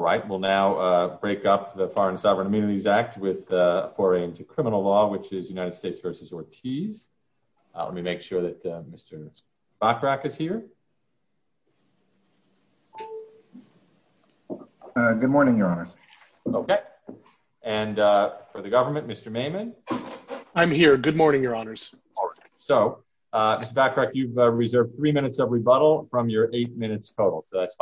Mr. Bachrach, you've reserved 3 minutes of rebuttal from your 8 minutes total, so that's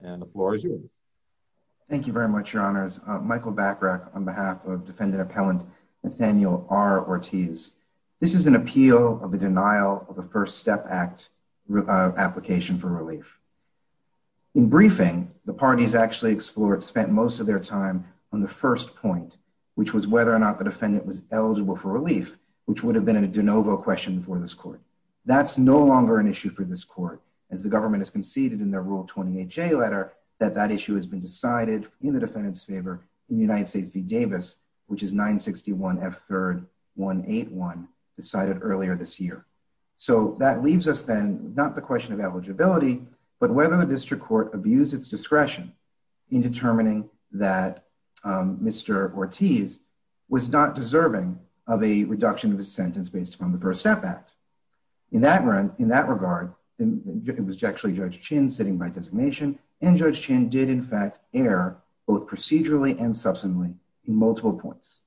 Thank you very much, Your Honors. Michael Bachrach on behalf of defendant appellant Nathaniel R. Ortiz. This is an appeal of the denial of the First Step Act application for relief. In briefing, the parties actually explored spent most of their time on the first point, which was whether or not the defendant was eligible for relief, which would have been a de novo question for this court. That's no longer an issue for this court, as the government has conceded in their Rule 28J letter that that issue has been decided in the defendant's favor in United States v. Davis, which is 961 F 3rd 181 decided earlier this year. So that leaves us then, not the question of eligibility, but whether the district court abused its discretion in determining that Mr. Ortiz was not deserving of a reduction of a sentence based upon the First Step Act. In that regard, it was actually Judge Chin sitting by designation, and Judge Chin did in fact err both procedurally and substantially in multiple points.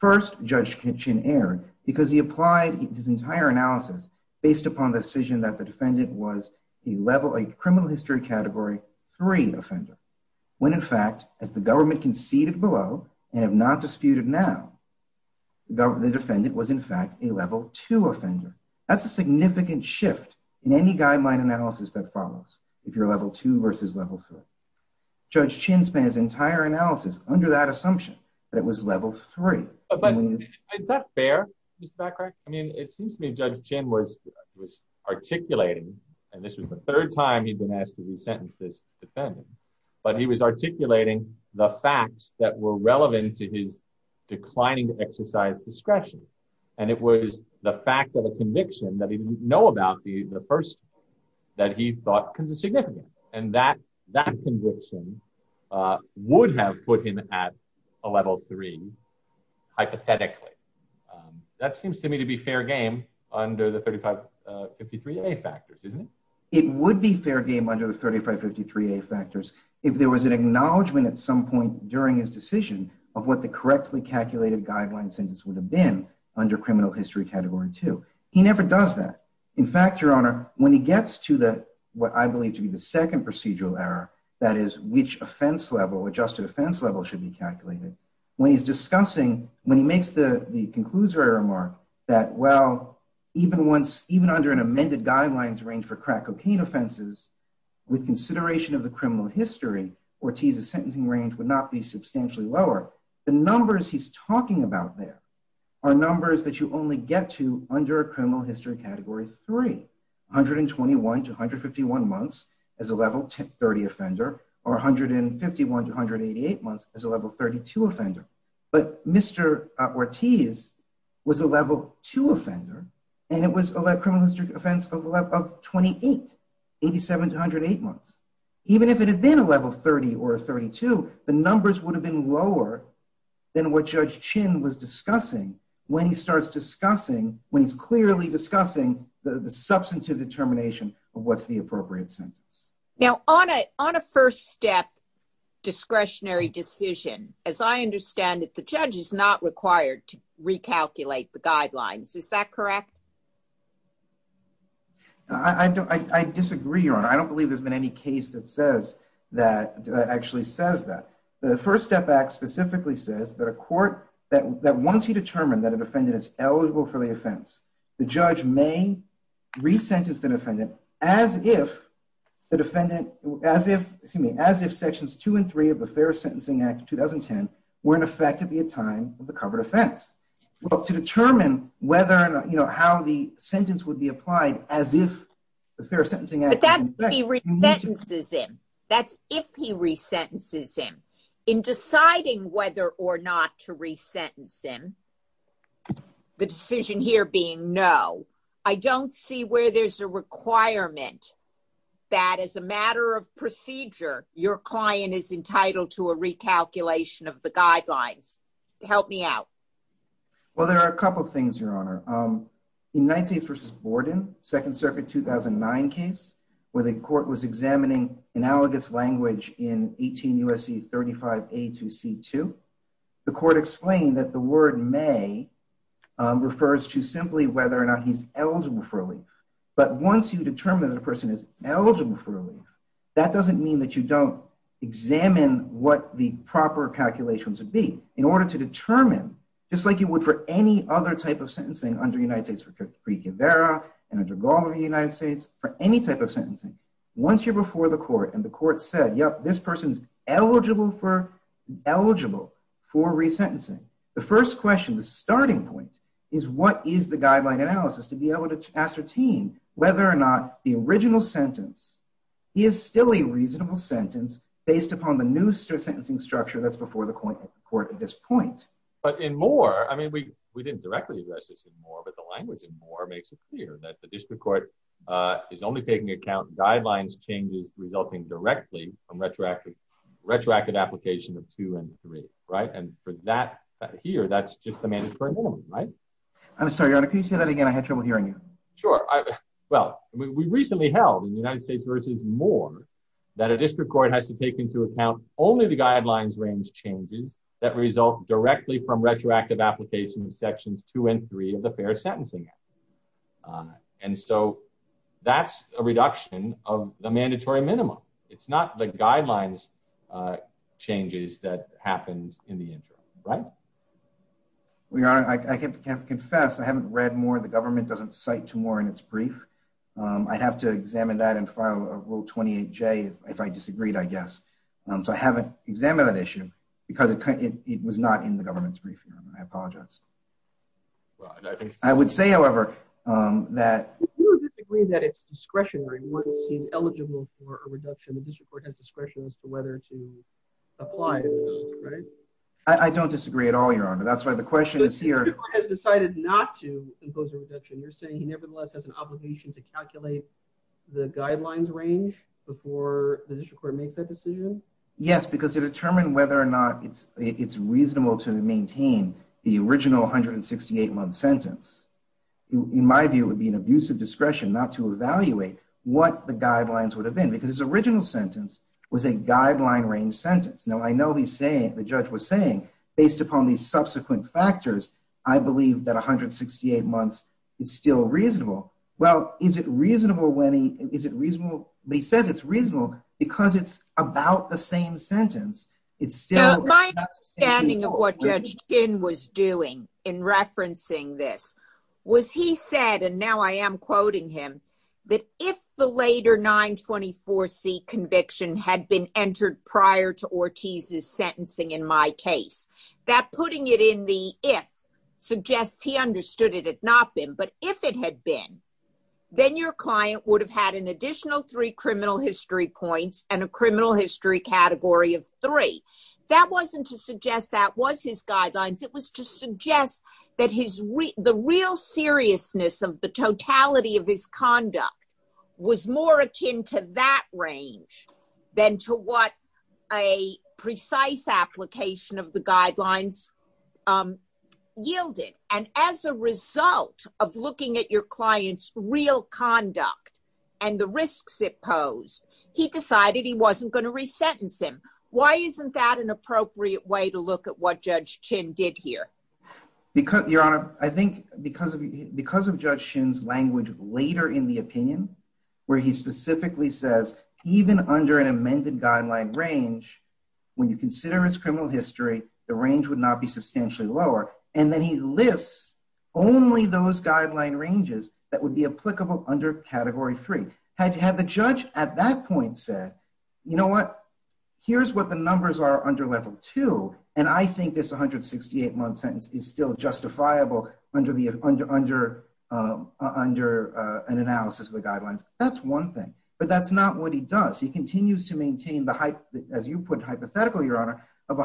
First, Judge Chin erred because he applied his entire analysis based upon the decision that the defendant was a level 8 criminal history category 3 offender. When in fact, as the government conceded below and have not disputed now, the defendant was in fact a level 2 offender. That's a significant shift in any guideline analysis that follows if you're level 2 versus level 3. Judge Chin spent his entire analysis under that assumption that it was level 3. But is that fair, Mr. Backrack? I mean, it seems to me Judge Chin was articulating, and this was the third time he'd been asked to re-sentence this defendant, but he was articulating the facts that were relevant to his declining exercise discretion. And it was the fact of a conviction that he didn't know about that he thought was significant. And that conviction would have put him at a level 3, hypothetically. That seems to me to be fair game under the 3553A factors, isn't it? It would be fair game under the 3553A factors if there was an acknowledgment at some point during his decision of what the correctly calculated guideline sentence would have been under criminal history category 2. He never does that. In fact, Your Honor, when he gets to what I believe to be the second procedural error, that is, which offense level, adjusted offense level, should be calculated. When he's discussing, when he makes the conclusory remark that, well, even under an amended guidelines range for crack cocaine offenses, with consideration of the criminal history, Ortiz's sentencing range would not be substantially lower. The numbers he's talking about there are numbers that you only get to under a criminal history category 3, 121 to 151 months as a level 30 offender, or 151 to 188 months as a level 32 offender. But Mr. Ortiz was a level 2 offender, and it was a criminal history offense of 28, 87 to 108 months. Even if it had been a level 30 or a 32, the numbers would have been lower than what Judge Chin was discussing when he starts discussing, when he's clearly discussing the substantive determination of what's the appropriate sentence. Now, on a first step discretionary decision, as I understand it, the judge is not required to recalculate the guidelines. Is that correct? I disagree, Your Honor. I don't believe there's been any case that actually says that. The First Step Act specifically says that once you determine that a defendant is eligible for the offense, the judge may re-sentence the defendant as if sections 2 and 3 of the Fair Sentencing Act of 2010 were in effect at the time of the covered offense. Well, to determine whether or not, you know, how the sentence would be applied as if the Fair Sentencing Act was in effect. But that's if he re-sentences him. That's if he re-sentences him. In deciding whether or not to re-sentence him, the decision here being no, I don't see where there's a requirement that as a matter of procedure, your client is entitled to a recalculation of the guidelines. Help me out. Well, there are a couple of things, Your Honor. In Knight States v. Borden, Second Circuit 2009 case, where the court was examining analogous language in 18 U.S.C. 35A2C2, the court explained that the word may refers to simply whether or not he's eligible for relief. Just like you would for any other type of sentencing under United States v. Kivara and under Gallimard v. United States, for any type of sentencing, once you're before the court and the court said, yep, this person's eligible for re-sentencing. The first question, the starting point, is what is the guideline analysis to be able to ascertain whether or not the original sentence is still a reasonable sentence based upon the new sentencing structure that's before the court at this point. But in Moore, I mean, we didn't directly address this in Moore, but the language in Moore makes it clear that the district court is only taking account guidelines changes resulting directly from retroactive application of 2 and 3, right? And for that here, that's just the mandatory minimum, right? I'm sorry, Your Honor. Can you say that again? I had trouble hearing you. Sure. Well, we recently held in United States v. Moore that a district court has to take into account only the guidelines range changes that result directly from retroactive application of sections 2 and 3 of the Fair Sentencing Act. And so that's a reduction of the mandatory minimum. It's not the guidelines changes that happened in the interim, right? Well, Your Honor, I can't confess. I haven't read Moore. The government doesn't cite to Moore in its brief. I'd have to examine that and file a Rule 28J if I disagreed, I guess. So I haven't examined that issue because it was not in the government's brief, Your Honor. I apologize. I would say, however, that— You would disagree that it's discretionary once he's eligible for a reduction. The district court has discretion as to whether to apply, right? I don't disagree at all, Your Honor. That's why the question is here. The district court has decided not to impose a reduction. You're saying he nevertheless has an obligation to calculate the guidelines range before the district court makes that decision? Yes, because to determine whether or not it's reasonable to maintain the original 168-month sentence, in my view, would be an abuse of discretion not to evaluate what the guidelines would have been. Because his original sentence was a guideline range sentence. Now, I know he's saying—the judge was saying, based upon these subsequent factors, I believe that 168 months is still reasonable. Well, is it reasonable when he—is it reasonable—but he says it's reasonable because it's about the same sentence. It's still— —had been entered prior to Ortiz's sentencing in my case. That putting it in the if suggests he understood it had not been, but if it had been, then your client would have had an additional three criminal history points and a criminal history category of three. That wasn't to suggest that was his guidelines. It was to suggest that the real seriousness of the totality of his conduct was more akin to that range than to what a precise application of the guidelines yielded. And as a result of looking at your client's real conduct and the risks it posed, he decided he wasn't going to resentence him. Why isn't that an appropriate way to look at what Judge Chin did here? Your Honor, I think because of Judge Chin's language later in the opinion, where he specifically says, even under an amended guideline range, when you consider his criminal history, the range would not be substantially lower. And then he lists only those guideline ranges that would be applicable under Category 3. Had the judge at that point said, you know what, here's what the numbers are under Level 2, and I think this 168-month sentence is still justifiable under an analysis of the guidelines, that's one thing. But that's not what he does. He continues to maintain the, as you put it hypothetically, Your Honor, of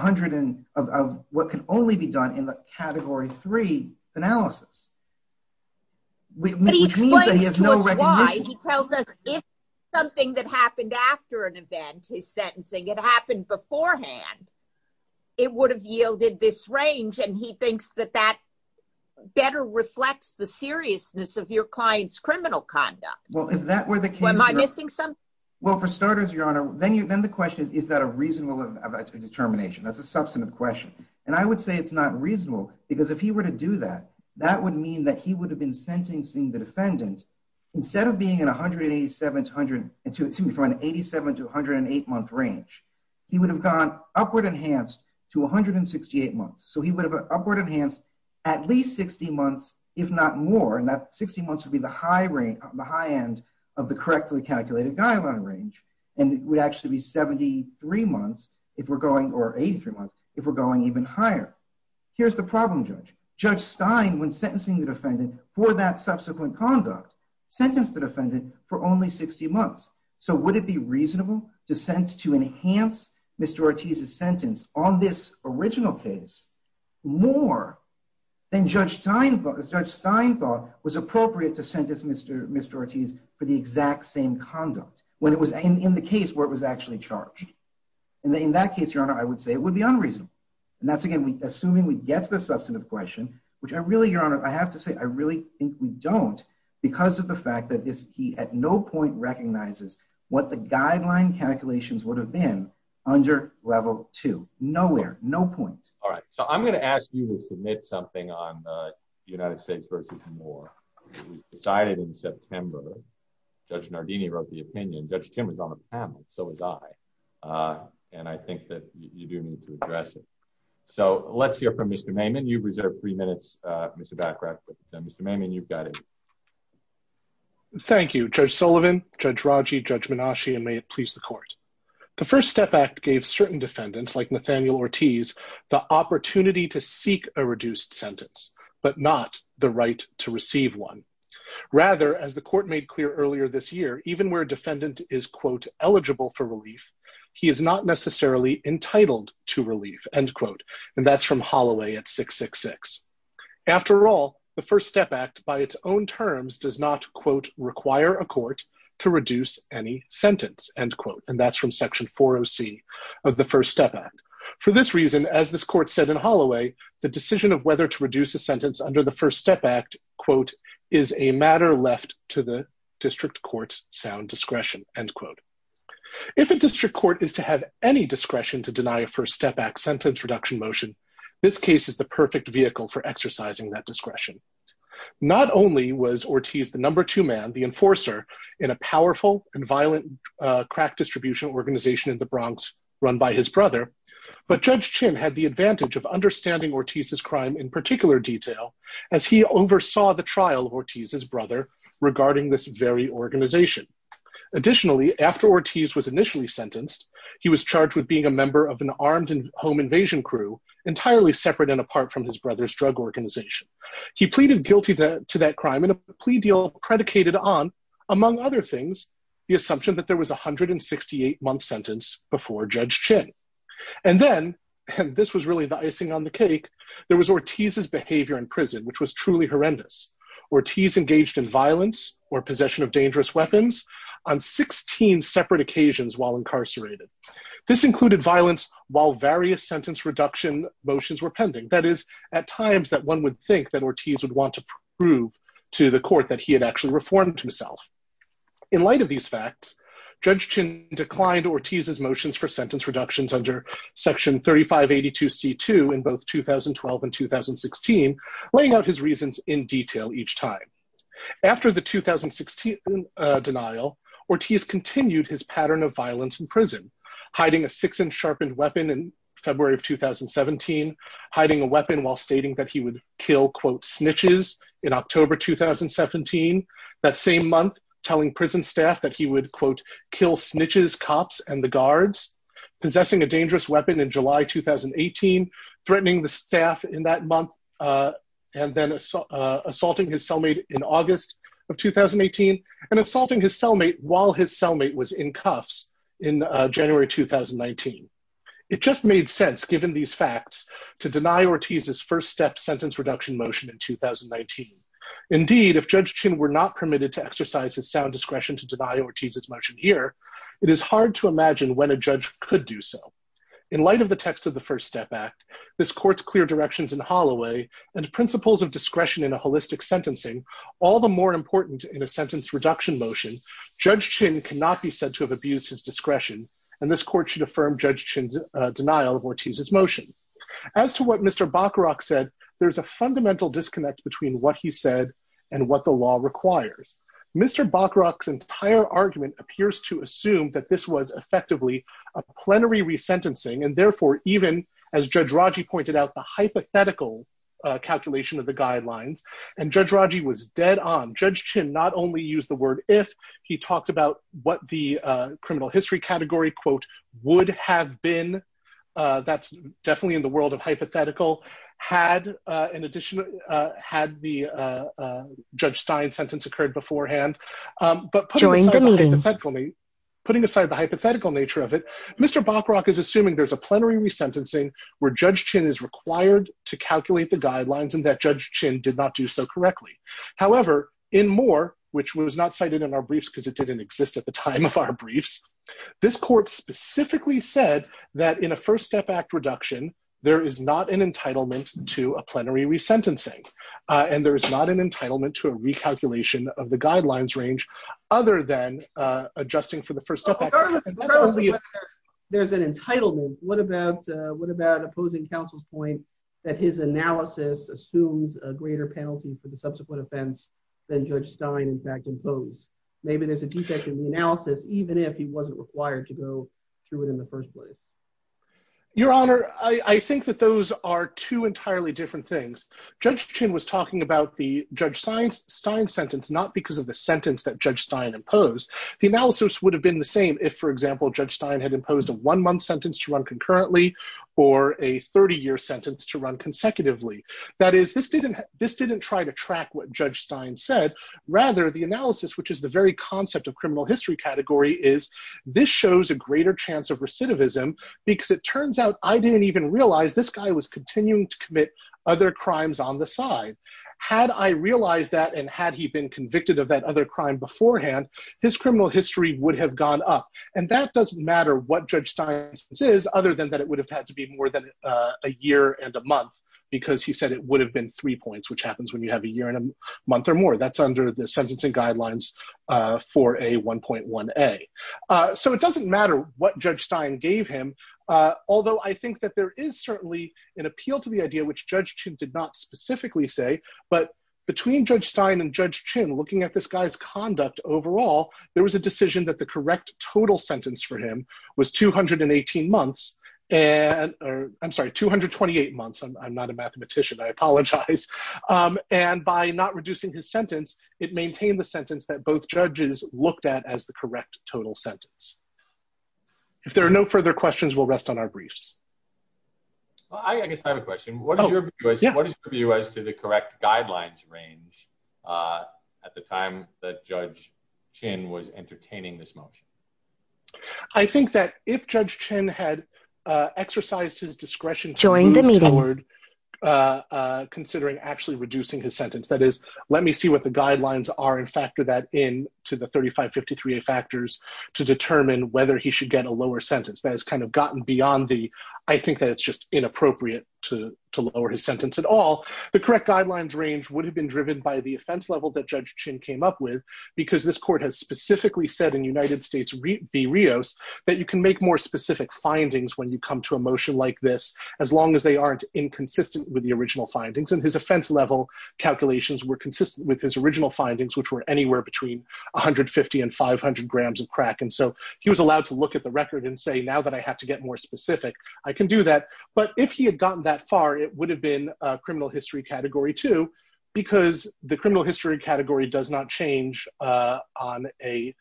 what can only be done in the Category 3 analysis, which means that he has no recognition. But he explains to us why. He tells us if something that happened after an event, his sentencing, it happened beforehand, it would have yielded this range, and he thinks that that better reflects the seriousness of your client's criminal conduct. Well, am I missing something? Well, for starters, Your Honor, then the question is, is that a reasonable determination? That's a substantive question. And I would say it's not reasonable, because if he were to do that, that would mean that he would have been sentencing the defendant. Instead of being in an 87- to 108-month range, he would have gone upward enhanced to 168 months. So he would have upward enhanced at least 60 months, if not more, and that 60 months would be the high end of the correctly calculated guideline range. And it would actually be 73 months, or 83 months, if we're going even higher. Here's the problem, Judge. Judge Stein, when sentencing the defendant for that subsequent conduct, sentenced the defendant for only 60 months. So would it be reasonable to enhance Mr. Ortiz's sentence on this original case more than Judge Stein thought was appropriate to sentence Mr. Ortiz for the exact same conduct when it was in the case where it was actually charged? In that case, Your Honor, I would say it would be unreasonable. And that's, again, assuming we get to the substantive question, which I really, Your Honor, I have to say I really think we don't, because of the fact that he at no point recognizes what the guideline calculations would have been under Level 2. Nowhere. No point. All right. So I'm going to ask you to submit something on the United States versus Moore. It was decided in September. Judge Nardini wrote the opinion. Judge Timmer's on the panel. So was I. And I think that you do need to address it. So let's hear from Mr. Maimon. You've reserved three minutes, Mr. Baccarat. Mr. Maimon, you've got it. Thank you, Judge Sullivan, Judge Raji, Judge Menashe, and may it please the Court. The First Step Act gave certain defendants, like Nathaniel Ortiz, the opportunity to seek a reduced sentence, but not the right to receive one. Rather, as the Court made clear earlier this year, even where a defendant is, quote, eligible for relief, he is not necessarily entitled to relief, end quote. And that's from Holloway at 666. After all, the First Step Act, by its own terms, does not, quote, require a court to reduce any sentence, end quote. And that's from Section 40C of the First Step Act. For this reason, as this Court said in Holloway, the decision of whether to reduce a sentence under the First Step Act, quote, is a matter left to the district court's sound discretion, end quote. If a district court is to have any discretion to deny a First Step Act sentence reduction motion, this case is the perfect vehicle for exercising that discretion. Not only was Ortiz the number two man, the enforcer, in a powerful and violent crack distribution organization in the Bronx run by his brother, but Judge Chin had the advantage of understanding Ortiz's crime in particular detail as he oversaw the trial of Ortiz's brother regarding this very organization. Additionally, after Ortiz was initially sentenced, he was charged with being a member of an armed home invasion crew entirely separate and apart from his brother's drug organization. He pleaded guilty to that crime in a plea deal predicated on, among other things, the assumption that there was a 168-month sentence before Judge Chin. And then, and this was really the icing on the cake, there was Ortiz's behavior in prison, which was truly horrendous. Ortiz engaged in violence or possession of dangerous weapons on 16 separate occasions while incarcerated. This included violence while various sentence reduction motions were pending, that is, at times that one would think that Ortiz would want to prove to the court that he had actually reformed himself. In light of these facts, Judge Chin declined Ortiz's motions for sentence reductions under Section 3582C2 in both 2012 and 2016, laying out his reasons in detail each time. After the 2016 denial, Ortiz continued his pattern of violence in prison, hiding a six-inch sharpened weapon in February of 2017, hiding a weapon while stating that he would kill, quote, snitches in October 2017. That same month, telling prison staff that he would, quote, kill snitches, cops, and the guards, possessing a dangerous weapon in July 2018, threatening the staff in that month, and then assaulting his cellmate in August of 2018, and assaulting his cellmate while his cellmate was in cuffs in January 2019. It just made sense, given these facts, to deny Ortiz's first step sentence reduction motion in 2019. Indeed, if Judge Chin were not permitted to exercise his sound discretion to deny Ortiz's motion here, it is hard to imagine when a judge could do so. In light of the text of the First Step Act, this court's clear directions in Holloway, and principles of discretion in a holistic sentencing, all the more important in a sentence reduction motion, Judge Chin cannot be said to have abused his discretion, and this court should affirm Judge Chin's denial of Ortiz's motion. As to what Mr. Bacharach said, there's a fundamental disconnect between what he said and what the law requires. Mr. Bacharach's entire argument appears to assume that this was effectively a plenary resentencing, and therefore even, as Judge Raji pointed out, the hypothetical calculation of the guidelines, and Judge Raji was dead on. Judge Chin not only used the word if, he talked about what the criminal history category, quote, would have been, that's definitely in the world of hypothetical, had the Judge Stein sentence occurred beforehand. But putting aside the hypothetical nature of it, Mr. Bacharach is assuming there's a plenary resentencing where Judge Chin is required to calculate the guidelines, and that Judge Chin did not do so correctly. However, in Moore, which was not cited in our briefs because it didn't exist at the time of our briefs, this court specifically said that in a First Step Act reduction, there is not an entitlement to a plenary resentencing, and there is not an entitlement to a recalculation of the guidelines range, other than adjusting for the First Step Act. There's an entitlement. What about opposing counsel's point that his analysis assumes a greater penalty for the subsequent offense than Judge Stein, in fact, imposed? Maybe there's a defect in the analysis, even if he wasn't required to go through it in the first place. Your Honor, I think that those are two entirely different things. Judge Chin was talking about the Judge Stein sentence, not because of the sentence that Judge Stein imposed. The analysis would have been the same if, for example, Judge Stein had imposed a one-month sentence to run concurrently or a 30-year sentence to run consecutively. That is, this didn't try to track what Judge Stein said. Rather, the analysis, which is the very concept of criminal history category, is this shows a greater chance of recidivism because it turns out I didn't even realize this guy was continuing to commit other crimes on the side. Had I realized that, and had he been convicted of that other crime beforehand, his criminal history would have gone up. And that doesn't matter what Judge Stein's sentence is, other than that it would have had to be more than a year and a month, because he said it would have been three points, which happens when you have a year and a month or more. That's under the sentencing guidelines for a 1.1a. So it doesn't matter what Judge Stein gave him, although I think that there is certainly an appeal to the idea, which Judge Chin did not specifically say, but between Judge Stein and Judge Chin looking at this guy's conduct overall, there was a decision that the correct total sentence for him was 218 months. I'm sorry, 228 months. I'm not a mathematician. I apologize. And by not reducing his sentence, it maintained the sentence that both judges looked at as the correct total sentence. If there are no further questions, we'll rest on our briefs. I guess I have a question. What is your view as to the correct guidelines range at the time that Judge Chin was entertaining this motion? I think that if Judge Chin had exercised his discretion to move toward considering actually reducing his sentence, that is, let me see what the guidelines are and factor that in to the 3553a factors to determine whether he should get a lower sentence. That has kind of gotten beyond the, I think that it's just inappropriate to lower his sentence at all. The correct guidelines range would have been driven by the offense level that Judge Chin came up with, because this court has specifically said in United States v. Rios that you can make more specific findings when you come to a motion like this, as long as they aren't inconsistent with the original findings. And Judge Chin's offense level calculations were consistent with his original findings, which were anywhere between 150 and 500 grams of crack. And so he was allowed to look at the record and say, now that I have to get more specific, I can do that. But if he had gotten that far, it would have been a criminal history category too, because the criminal history category does not change on a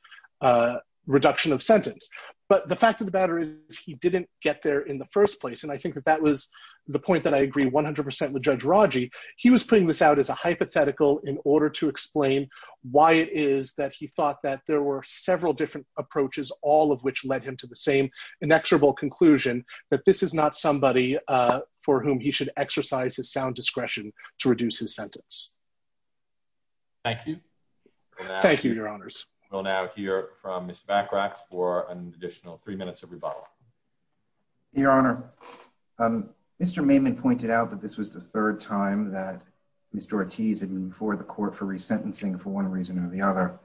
reduction of sentence. But the fact of the matter is, he didn't get there in the first place. And I think that that was the point that I agree 100% with Judge Raji. He was putting this out as a hypothetical in order to explain why it is that he thought that there were several different approaches, all of which led him to the same inexorable conclusion that this is not somebody for whom he should exercise his sound discretion to reduce his sentence. Thank you. Thank you, Your Honors. We'll now hear from Mr. Bachrach for an additional three minutes of rebuttal. Your Honor, Mr. Maiman pointed out that this was the third time that Mr. Ortiz had been before the court for resentencing for one reason or the other.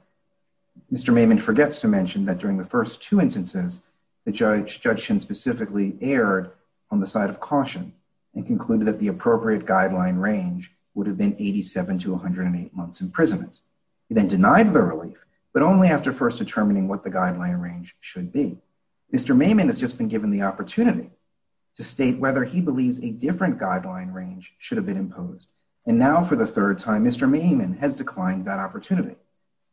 Mr. Maiman forgets to mention that during the first two instances, the judge specifically erred on the side of caution and concluded that the appropriate guideline range would have been 87 to 108 months imprisonment. He then denied the relief, but only after first determining what the guideline range should be. Mr. Maiman has just been given the opportunity to state whether he believes a different guideline range should have been imposed. And now for the third time, Mr. Maiman has declined that opportunity.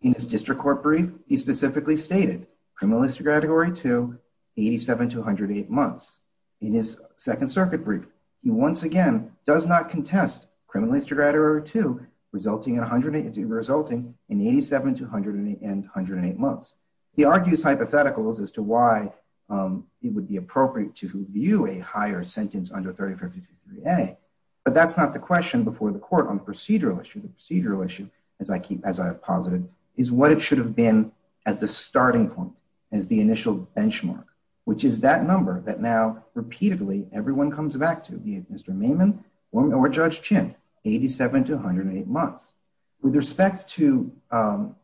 In his district court brief, he specifically stated criminal history category 2, 87 to 108 months. In his Second Circuit brief, he once again does not contest criminal history category 2 resulting in 87 to 108 months. He argues hypotheticals as to why it would be appropriate to view a higher sentence under 3553A. But that's not the question before the court on the procedural issue. The procedural issue, as I have posited, is what it should have been as the starting point, as the initial benchmark, which is that number that now repeatedly everyone comes back to, be it Mr. Maiman or Judge Chin, 87 to 108 months. With respect to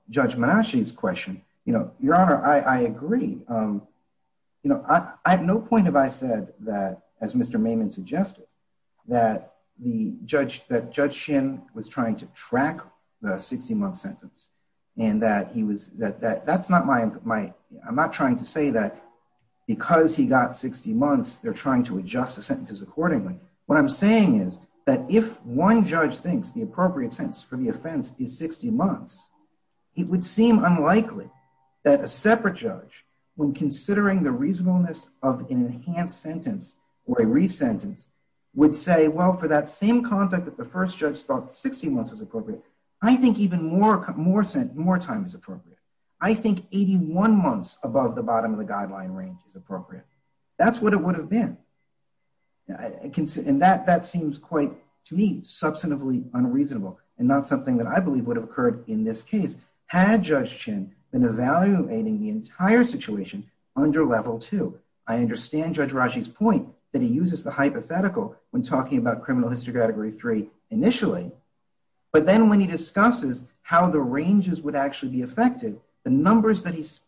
Judge Menashe's question, Your Honor, I agree. I have no point if I said that, as Mr. Maiman suggested, that Judge Chin was trying to track the 60-month sentence. I'm not trying to say that because he got 60 months, they're trying to adjust the sentences accordingly. What I'm saying is that if one judge thinks the appropriate sentence for the offense is 60 months, it would seem unlikely that a separate judge, when considering the reasonableness of an enhanced sentence or a re-sentence, would say, well, for that same conduct that the first judge thought 60 months was appropriate, I think even more time is appropriate. I think 81 months above the bottom of the guideline range is appropriate. That's what it would have been. And that seems quite, to me, substantively unreasonable and not something that I believe would have occurred in this case had Judge Chin been evaluating the entire situation under Level 2. I understand Judge Raji's point that he uses the hypothetical when talking about Criminal History Category 3 initially, but then when he discusses how the ranges would actually be affected, the numbers that he's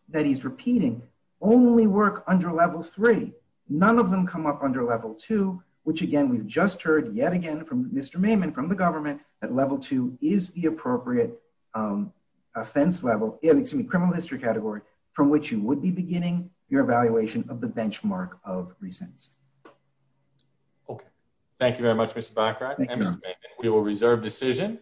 repeating only work under Level 3. None of them come up under Level 2, which again, we've just heard yet again from Mr. Maiman, from the government, that Level 2 is the appropriate offense level, excuse me, Criminal History Category, from which you would be beginning your evaluation of the benchmark of re-sentencing. Okay. Thank you very much, Mr. Bachrach and Mr. Maiman. We will reserve decision.